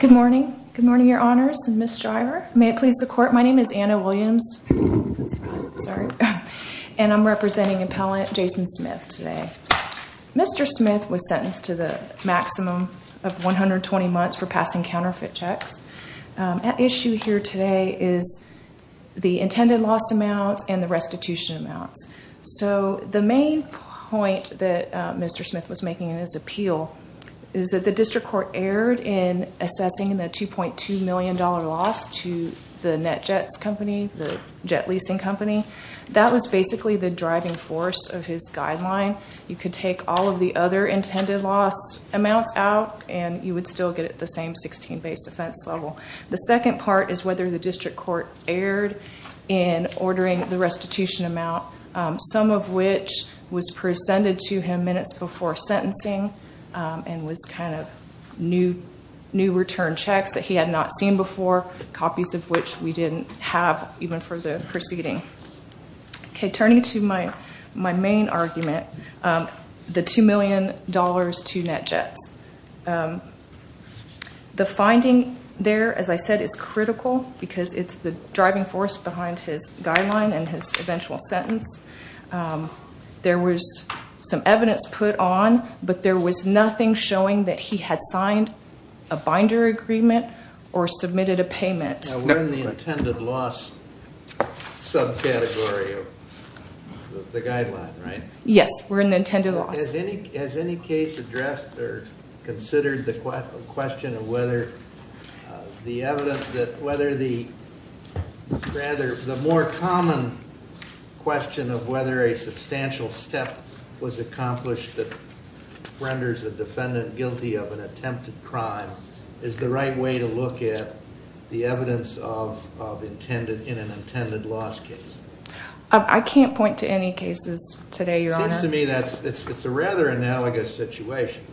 Good morning. Good morning, your honors and Ms. Geyer. May it please the court, my name is Anna Williams. And I'm representing appellant Jason Smith today. Mr. Smith was sentenced to the maximum of 120 months for passing counterfeit checks. At issue here today is the intended loss amounts and the restitution amounts. So the main point that Mr. Smith was making in his appeal is that the district court erred in assessing the $2.2 million loss to the NetJets company, the jet leasing company. That was basically the driving force of his guideline. You could take all of the other intended loss amounts out and you would still get it the same 16 base offense level. The second part is whether the district court erred in ordering the restitution amount, some of which was presented to him minutes before sentencing and was kind of new return checks that he had not seen before, copies of which we didn't have even for the proceeding. Okay, turning to my main argument, the $2 million to NetJets. The finding there, as I said, is critical because it's the driving force behind his guideline and his eventual sentence. There was some evidence put on, but there was nothing showing that he had signed a binder agreement or submitted a payment. We're in the intended loss subcategory of the guideline, right? Yes, we're in the intended loss. Has any case addressed or considered the question of whether the more common question of whether a substantial step was accomplished that renders a defendant guilty of an attempted crime is the right way to look at the evidence in an intended loss case? I can't point to any cases today, Your Honor. It seems to me that it's a rather analogous situation.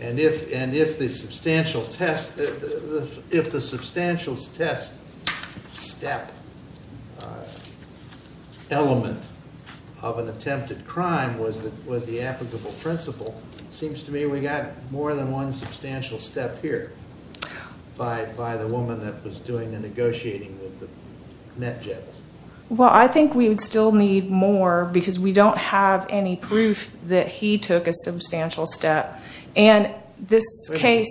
And if the substantial test step element of an attempted crime was the applicable principle, it seems to me we got more than one substantial step here by the woman that was doing the negotiating with the NetJets. Well, I think we would still need more because we don't have any proof that he took a substantial step. And this case...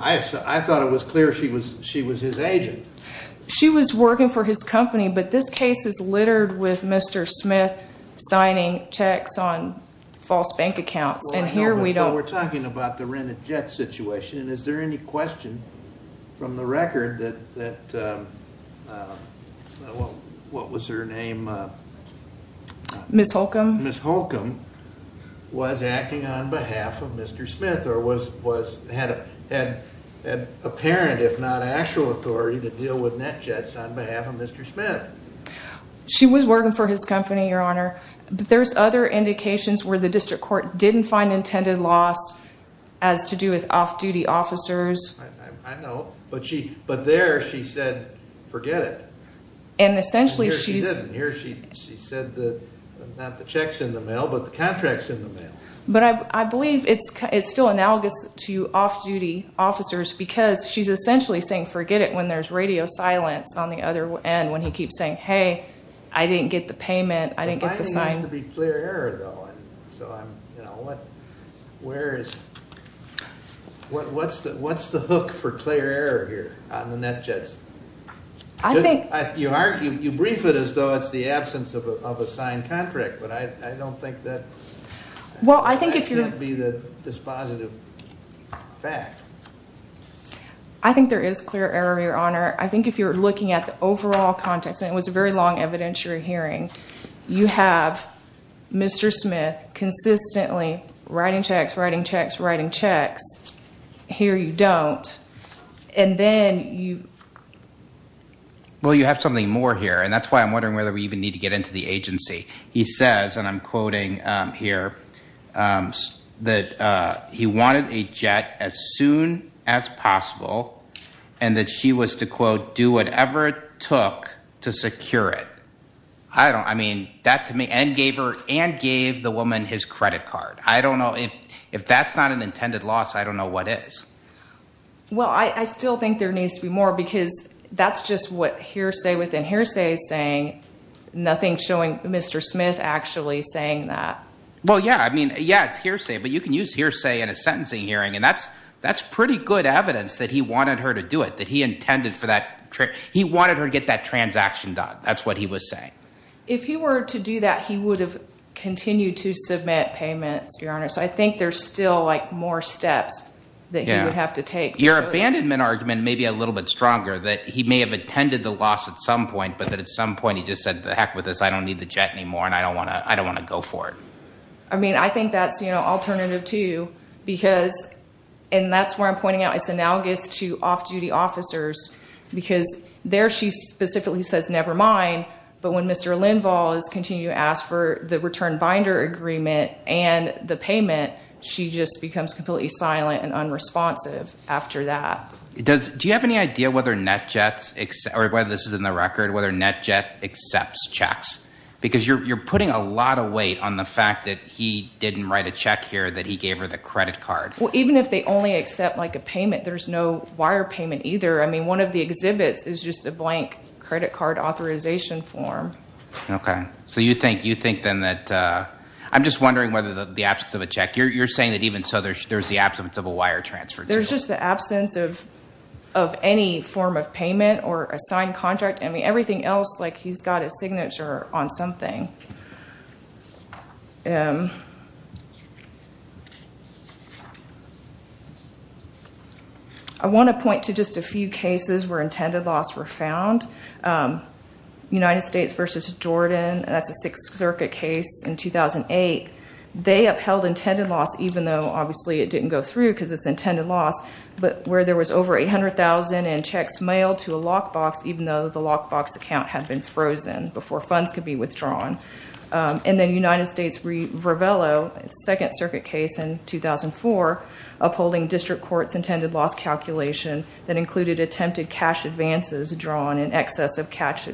I thought it was clear she was his agent. She was working for his company, but this case is littered with Mr. Smith signing checks on false bank accounts. We're talking about the Rent-A-Jet situation. Is there any question from the record that... What was her name? Ms. Holcomb. Ms. Holcomb was acting on behalf of Mr. Smith or had apparent, if not actual, authority to deal with NetJets on behalf of Mr. Smith. She was working for his company, Your Honor. There's other indications where the district court didn't find intended loss as to do with off-duty officers. I know. But there she said, forget it. And essentially she... And here she didn't. Here she said, not the checks in the mail, but the contracts in the mail. But I believe it's still analogous to off-duty officers because she's essentially saying forget it when there's radio silence on the other end, when he keeps saying, hey, I didn't get the payment, I didn't get the sign. The binding has to be clear error, though. What's the hook for clear error here on the NetJets? I think... You brief it as though it's the absence of a signed contract, but I don't think that... Well, I think if you're... That can't be the dispositive fact. I think there is clear error, Your Honor. I think if you're looking at the overall context, and it was a very long evidentiary hearing, you have Mr. Smith consistently writing checks, writing checks, writing checks. Here you don't. And then you... Well, you have something more here, and that's why I'm wondering whether we even need to get into the agency. He says, and I'm quoting here, that he wanted a jet as soon as possible, and that she was to, quote, do whatever it took to secure it. I don't... I mean, that to me... And gave the woman his credit card. I don't know. If that's not an intended loss, I don't know what is. Well, I still think there needs to be more, because that's just what hearsay within hearsay is saying. Nothing showing Mr. Smith actually saying that. Well, yeah. I mean, yeah, it's hearsay, but you can use hearsay in a sentencing hearing, and that's pretty good evidence that he wanted her to do it, that he intended for that... He wanted her to get that transaction done. That's what he was saying. If he were to do that, he would have continued to submit payments, Your Honor. So I think there's still, like, more steps that he would have to take. Your abandonment argument may be a little bit stronger, that he may have intended the loss at some point, but that at some point he just said, to heck with this. I don't need the jet anymore, and I don't want to go for it. I mean, I think that's, you know, alternative, too, because... And that's where I'm pointing out it's analogous to off-duty officers, because there she specifically says, never mind. But when Mr. Lindvall is continuing to ask for the return binder agreement and the payment, she just becomes completely silent and unresponsive after that. Do you have any idea whether NetJet's, or whether this is in the record, whether NetJet accepts checks? Because you're putting a lot of weight on the fact that he didn't write a check here, that he gave her the credit card. Well, even if they only accept, like, a payment, there's no wire payment either. I mean, one of the exhibits is just a blank credit card authorization form. Okay. So you think, then, that... I'm just wondering whether the absence of a check, you're saying that even so, there's the absence of a wire transfer, too. There's just the absence of any form of payment or a signed contract. I mean, everything else, like, he's got his signature on something. I want to point to just a few cases where intended loss were found. United States v. Jordan, that's a Sixth Circuit case in 2008. They upheld intended loss, even though, obviously, it didn't go through, because it's intended loss. But where there was over $800,000 in checks mailed to a lockbox, even though the lockbox account had been frozen before funds could be withdrawn. And then United States v. Vervelo, Second Circuit case in 2004, upholding district court's intended loss calculation that included attempted cash advances drawn in excess of cash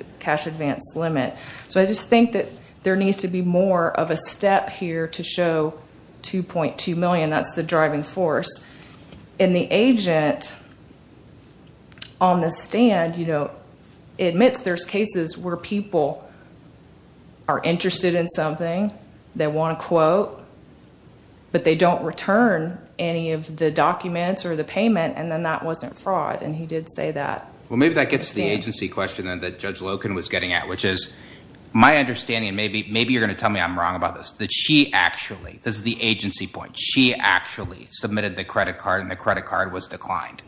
advance limit. So I just think that there needs to be more of a step here to show $2.2 million. That's the driving force. And the agent on the stand, you know, admits there's cases where people are interested in something. They want a quote, but they don't return any of the documents or the payment. And then that wasn't fraud, and he did say that. Well, maybe that gets to the agency question that Judge Loken was getting at, which is, my understanding, and maybe you're going to tell me I'm wrong about this, that she actually, this is the agency point, she actually submitted the credit card, and the credit card was declined.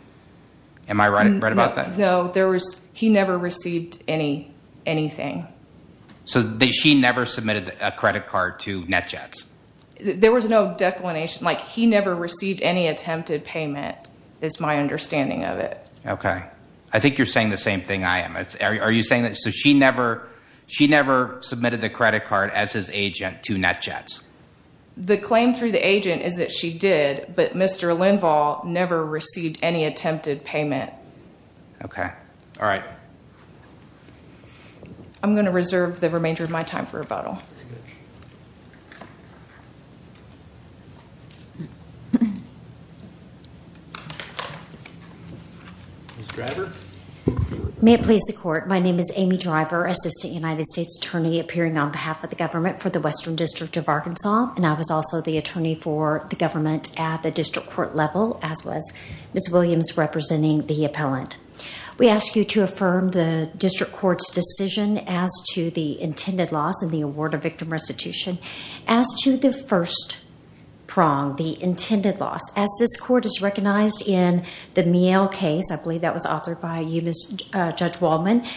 Am I right about that? No. He never received anything. So she never submitted a credit card to NetJets? There was no declination. Like, he never received any attempted payment is my understanding of it. Okay. I think you're saying the same thing I am. Are you saying that she never submitted the credit card as his agent to NetJets? The claim through the agent is that she did, but Mr. Lindvall never received any attempted payment. Okay. All right. I'm going to reserve the remainder of my time for rebuttal. Ms. Grabber? May it please the Court. My name is Amy Driver, Assistant United States Attorney, appearing on behalf of the government for the Western District of Arkansas, and I was also the attorney for the government at the district court level, as was Ms. Williams representing the appellant. We ask you to affirm the district court's decision as to the intended loss and the award of victim restitution as to the first prong, the intended loss. As this court has recognized in the Miel case, I believe that was authored by you, Judge Wallman,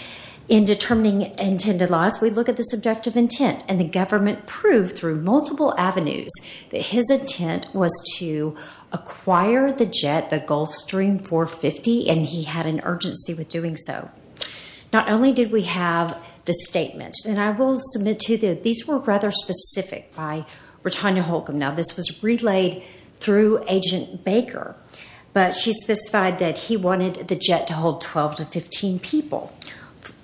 in determining intended loss, we look at the subjective intent, and the government proved through multiple avenues that his intent was to acquire the jet, the Gulfstream 450, and he had an urgency with doing so. Not only did we have the statement, and I will submit to you that these were rather specific by Ritanya Holcomb. Now, this was relayed through Agent Baker, but she specified that he wanted the jet to hold 12 to 15 people,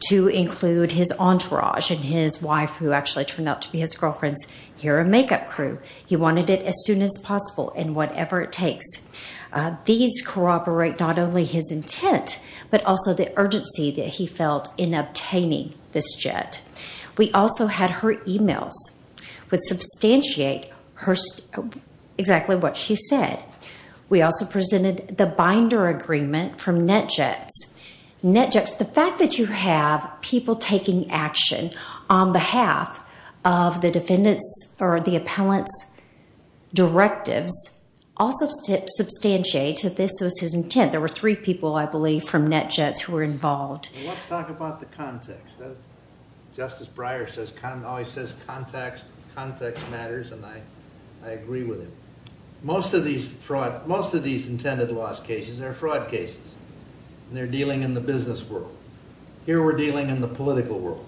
to include his entourage and his wife, who actually turned out to be his girlfriend's hair and makeup crew. He wanted it as soon as possible and whatever it takes. These corroborate not only his intent, but also the urgency that he felt in obtaining this jet. We also had her emails, which substantiate exactly what she said. We also presented the binder agreement from NetJets. NetJets, the fact that you have people taking action on behalf of the defendants or the appellant's directives also substantiates that this was his intent. There were three people, I believe, from NetJets who were involved. Let's talk about the context. Justice Breyer always says context matters, and I agree with him. Most of these intended loss cases are fraud cases, and they're dealing in the business world. Here we're dealing in the political world.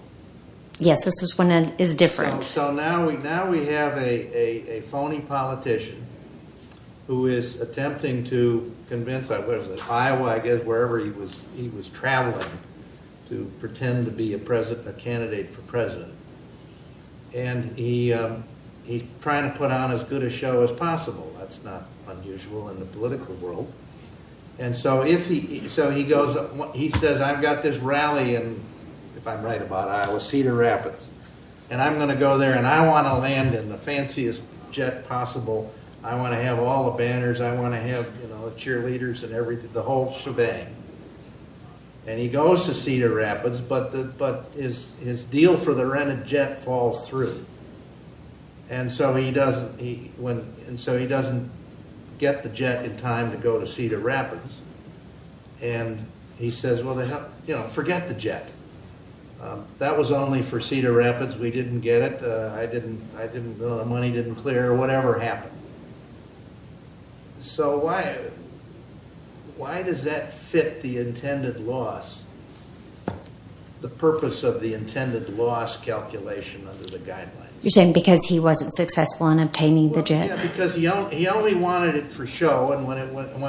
Yes, this is when it is different. Now we have a phony politician who is attempting to convince Iowa, wherever he was traveling, to pretend to be a candidate for president. He's trying to put on as good a show as possible. That's not unusual in the political world. He says, I've got this rally in, if I'm right about Iowa, Cedar Rapids, and I'm going to go there and I want to land in the fanciest jet possible. I want to have all the banners. I want to have the cheerleaders and the whole shebang. And he goes to Cedar Rapids, but his deal for the rented jet falls through. And so he doesn't get the jet in time to go to Cedar Rapids. And he says, well, forget the jet. That was only for Cedar Rapids. We didn't get it. The money didn't clear. Whatever happened. So why does that fit the intended loss, the purpose of the intended loss calculation under the guidelines? You're saying because he wasn't successful in obtaining the jet. Because he only wanted it for show, and when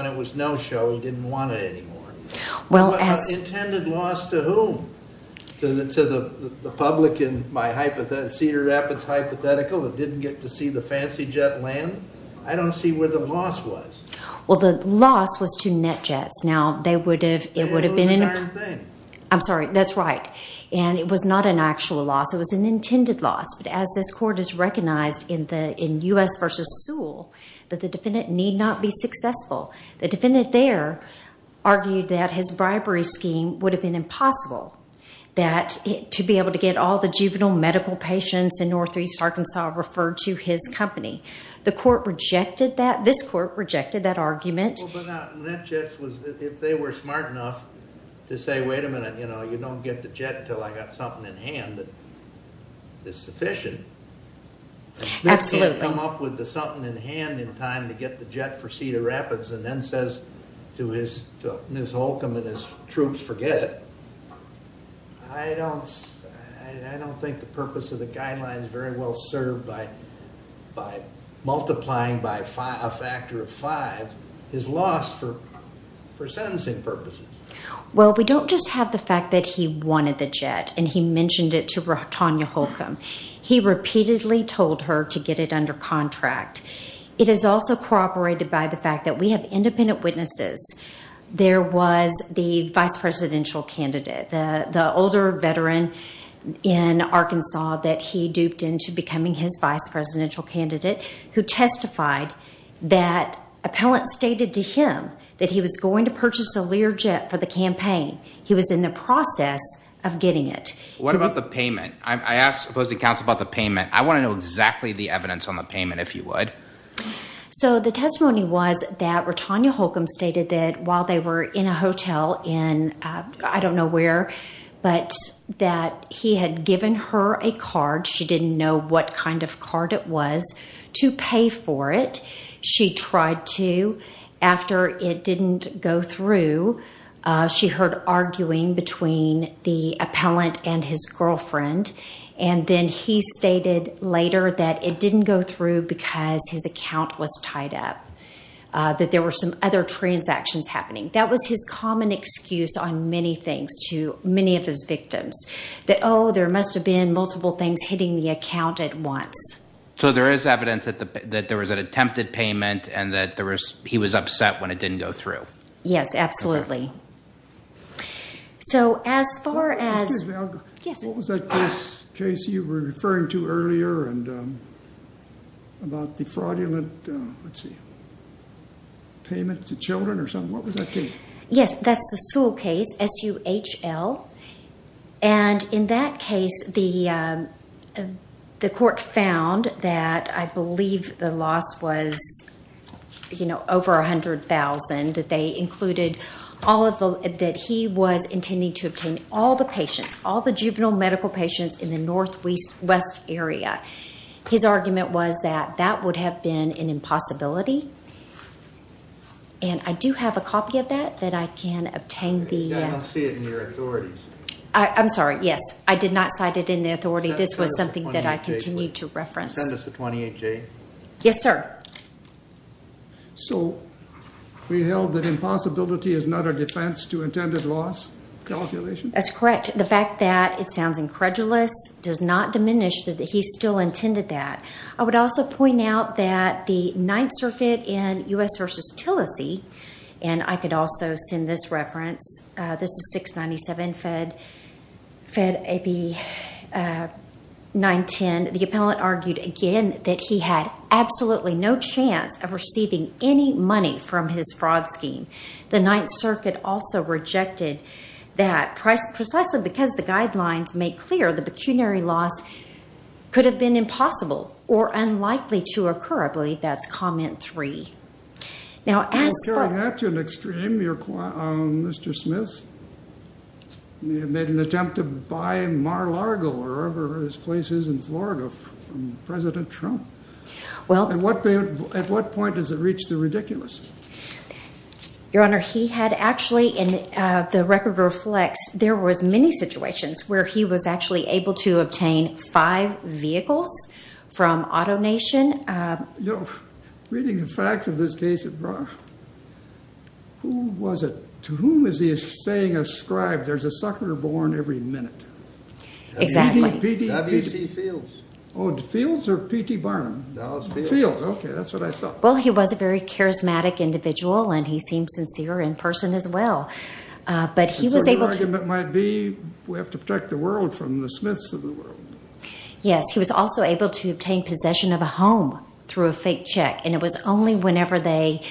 it was no show, he didn't want it anymore. Intended loss to whom? To the public in my Cedar Rapids hypothetical, that didn't get to see the fancy jet land? I don't see where the loss was. Well, the loss was to NetJets. Now, they would have, it would have been. They didn't lose a darn thing. I'm sorry, that's right. And it was not an actual loss. It was an intended loss. But as this court has recognized in U.S. v. Sewell, that the defendant need not be successful. The defendant there argued that his bribery scheme would have been impossible, that to be able to get all the juvenile medical patients in northeast Arkansas referred to his company. The court rejected that. This court rejected that argument. Well, but NetJets was, if they were smart enough to say, wait a minute, you know, you don't get the jet until I got something in hand that is sufficient. Absolutely. He didn't come up with the something in hand in time to get the jet for Cedar Rapids and then says to Ms. Holcomb and his troops, forget it. I don't think the purpose of the guidelines very well served by multiplying by a factor of five, his loss for sentencing purposes. Well, we don't just have the fact that he wanted the jet, and he mentioned it to Tanya Holcomb. He repeatedly told her to get it under contract. It is also corroborated by the fact that we have independent witnesses. There was the vice presidential candidate, the older veteran in Arkansas that he duped into becoming his vice presidential candidate who testified that appellants stated to him that he was going to purchase a Learjet for the campaign. He was in the process of getting it. What about the payment? I asked opposing counsel about the payment. I want to know exactly the evidence on the payment, if you would. So the testimony was that Tanya Holcomb stated that while they were in a hotel in I don't know where, but that he had given her a card. She didn't know what kind of card it was to pay for it. She tried to. After it didn't go through, she heard arguing between the appellant and his girlfriend, and then he stated later that it didn't go through because his account was tied up, that there were some other transactions happening. That was his common excuse on many things to many of his victims, that, oh, there must have been multiple things hitting the account at once. So there is evidence that there was an attempted payment and that he was upset when it didn't go through. Yes, absolutely. So as far as— Excuse me, Algo. Yes. What was that case, Casey, you were referring to earlier about the fraudulent payment to children or something? What was that case? Yes, that's the Sewell case, S-U-H-L. In that case, the court found that I believe the loss was over $100,000, that they included all of the—that he was intending to obtain all the patients, all the juvenile medical patients in the northwest area. His argument was that that would have been an impossibility, and I do have a copy of that that I can obtain the— I don't see it in your authorities. I'm sorry, yes. I did not cite it in the authority. This was something that I continued to reference. Can you send us the 28-J? Yes, sir. So we held that impossibility is not a defense to intended loss calculation? That's correct. The fact that it sounds incredulous does not diminish that he still intended that. I would also point out that the Ninth Circuit in U.S. v. Tillesey, and I could also send this reference. This is 697 Fed AB 910. The appellant argued, again, that he had absolutely no chance of receiving any money from his fraud scheme. The Ninth Circuit also rejected that precisely because the guidelines make clear the pecuniary loss could have been impossible or unlikely to occur. I believe that's comment three. Carrying that to an extreme, Mr. Smith made an attempt to buy Mar-a-Lago, wherever his place is in Florida, from President Trump. At what point does it reach the ridiculous? Your Honor, he had actually, and the record reflects, there was many situations where he was actually able to obtain five vehicles from AutoNation. Reading the facts of this case, who was it? To whom is he saying ascribed there's a sucker born every minute? W.C. Fields. Fields or P.T. Barnum? Fields. Okay, that's what I thought. Well, he was a very charismatic individual, and he seemed sincere in person as well. But he was able to— Your argument might be we have to protect the world from the Smiths of the world. Yes, he was also able to obtain possession of a home through a fake check, and it was only whenever they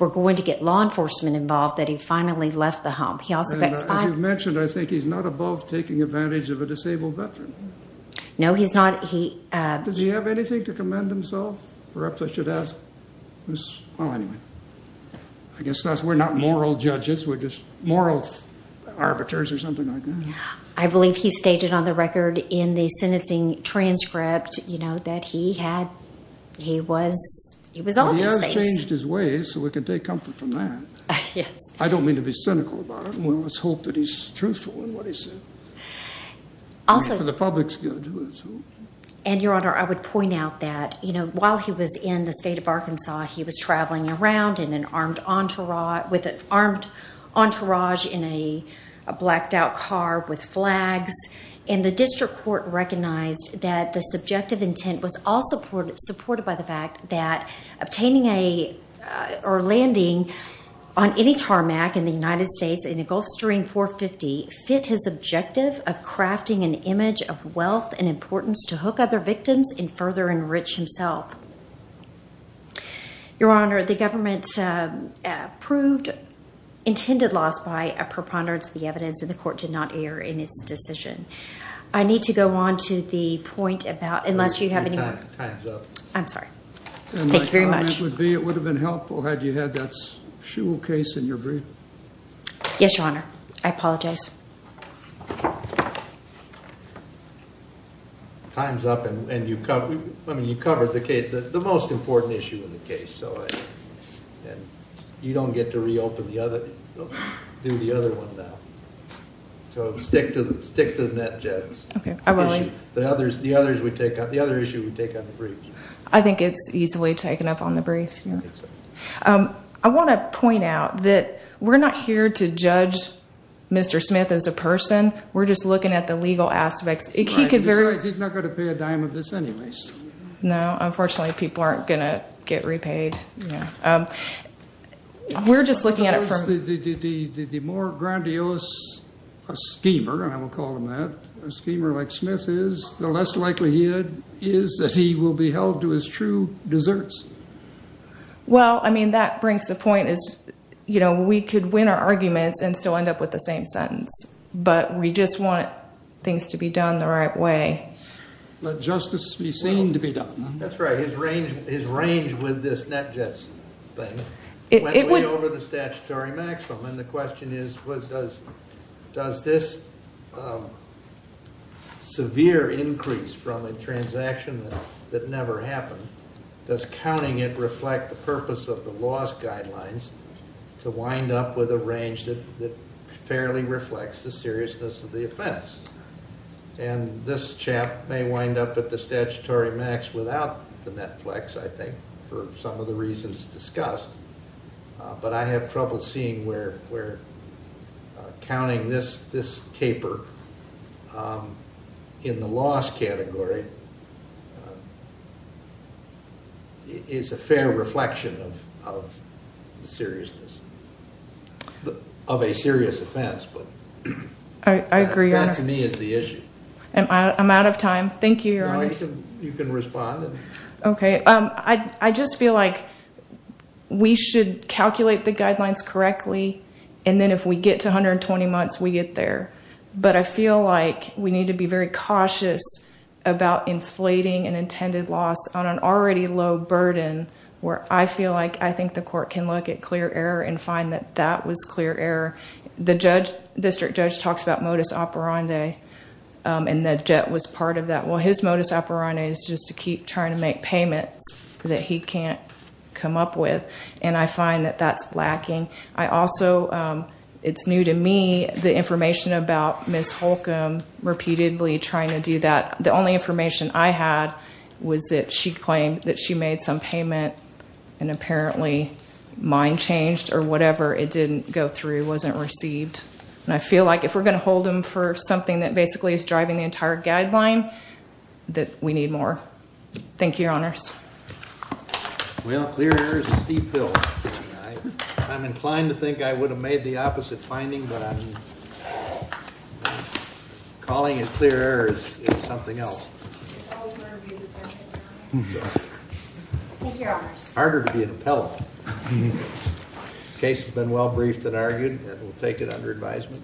were going to get law enforcement involved that he finally left the home. As you've mentioned, I think he's not above taking advantage of a disabled veteran. No, he's not. Does he have anything to commend himself? Perhaps I should ask. Well, anyway, I guess we're not moral judges. We're just moral arbiters or something like that. I believe he stated on the record in the sentencing transcript that he was on these things. Well, he has changed his ways, so we can take comfort from that. Yes. I don't mean to be cynical about it. Let's hope that he's truthful in what he said. Also— For the public's good. And, Your Honor, I would point out that while he was in the state of Arkansas, he was traveling around with an armed entourage in a blacked-out car with flags, and the district court recognized that the subjective intent was also supported by the fact that obtaining or landing on any tarmac in the United States in a Gulfstream 450 fit his objective of crafting an image of wealth and importance to hook other victims and further enrich himself. Your Honor, the government approved intended loss by a preponderance of the evidence, and the court did not err in its decision. I need to go on to the point about— Time's up. I'm sorry. Thank you very much. My comment would be it would have been helpful had you had that shul case in your brief. Yes, Your Honor. I apologize. Time's up, and you covered the most important issue in the case, so you don't get to reopen the other—do the other one now. So stick to the net, Jess. Okay. The other issue we take on the briefs. I think it's easily taken up on the briefs, Your Honor. I think so. I want to point out that we're not here to judge Mr. Smith as a person. We're just looking at the legal aspects. He could very— Besides, he's not going to pay a dime of this anyways. No. Unfortunately, people aren't going to get repaid. We're just looking at it from— The more grandiose a schemer, and I will call him that, a schemer like Smith is, the less likely he is that he will be held to his true desserts. Well, I mean, that brings the point is, you know, we could win our arguments and still end up with the same sentence, but we just want things to be done the right way. Let justice be seen to be done. That's right. His range with this net, Jess, thing went way over the statutory maximum, and the question is, does this severe increase from a transaction that never happened, does counting it reflect the purpose of the loss guidelines to wind up with a range that fairly reflects the seriousness of the offense? And this chap may wind up at the statutory max without the net flex, I think, for some of the reasons discussed, but I have trouble seeing where counting this caper in the loss category is a fair reflection of the seriousness of a serious offense. I agree, Your Honor. That, to me, is the issue. I'm out of time. Thank you, Your Honor. You can respond. Okay. I just feel like we should calculate the guidelines correctly, and then if we get to 120 months, we get there. But I feel like we need to be very cautious about inflating an intended loss on an already low burden where I feel like I think the court can look at clear error and find that that was clear error. The district judge talks about modus operandi, and the jet was part of that. Well, his modus operandi is just to keep trying to make payments that he can't come up with, and I find that that's lacking. Also, it's new to me the information about Ms. Holcomb repeatedly trying to do that. The only information I had was that she claimed that she made some payment and apparently mine changed or whatever. It didn't go through. It wasn't received. I feel like if we're going to hold him for something that basically is driving the entire guideline, that we need more. Thank you, Your Honors. Well, clear error is a steep hill. I'm inclined to think I would have made the opposite finding, but calling it clear error is something else. Thank you, Your Honors. It's harder to be an appellate. The case has been well briefed and argued. We'll take it under advisement.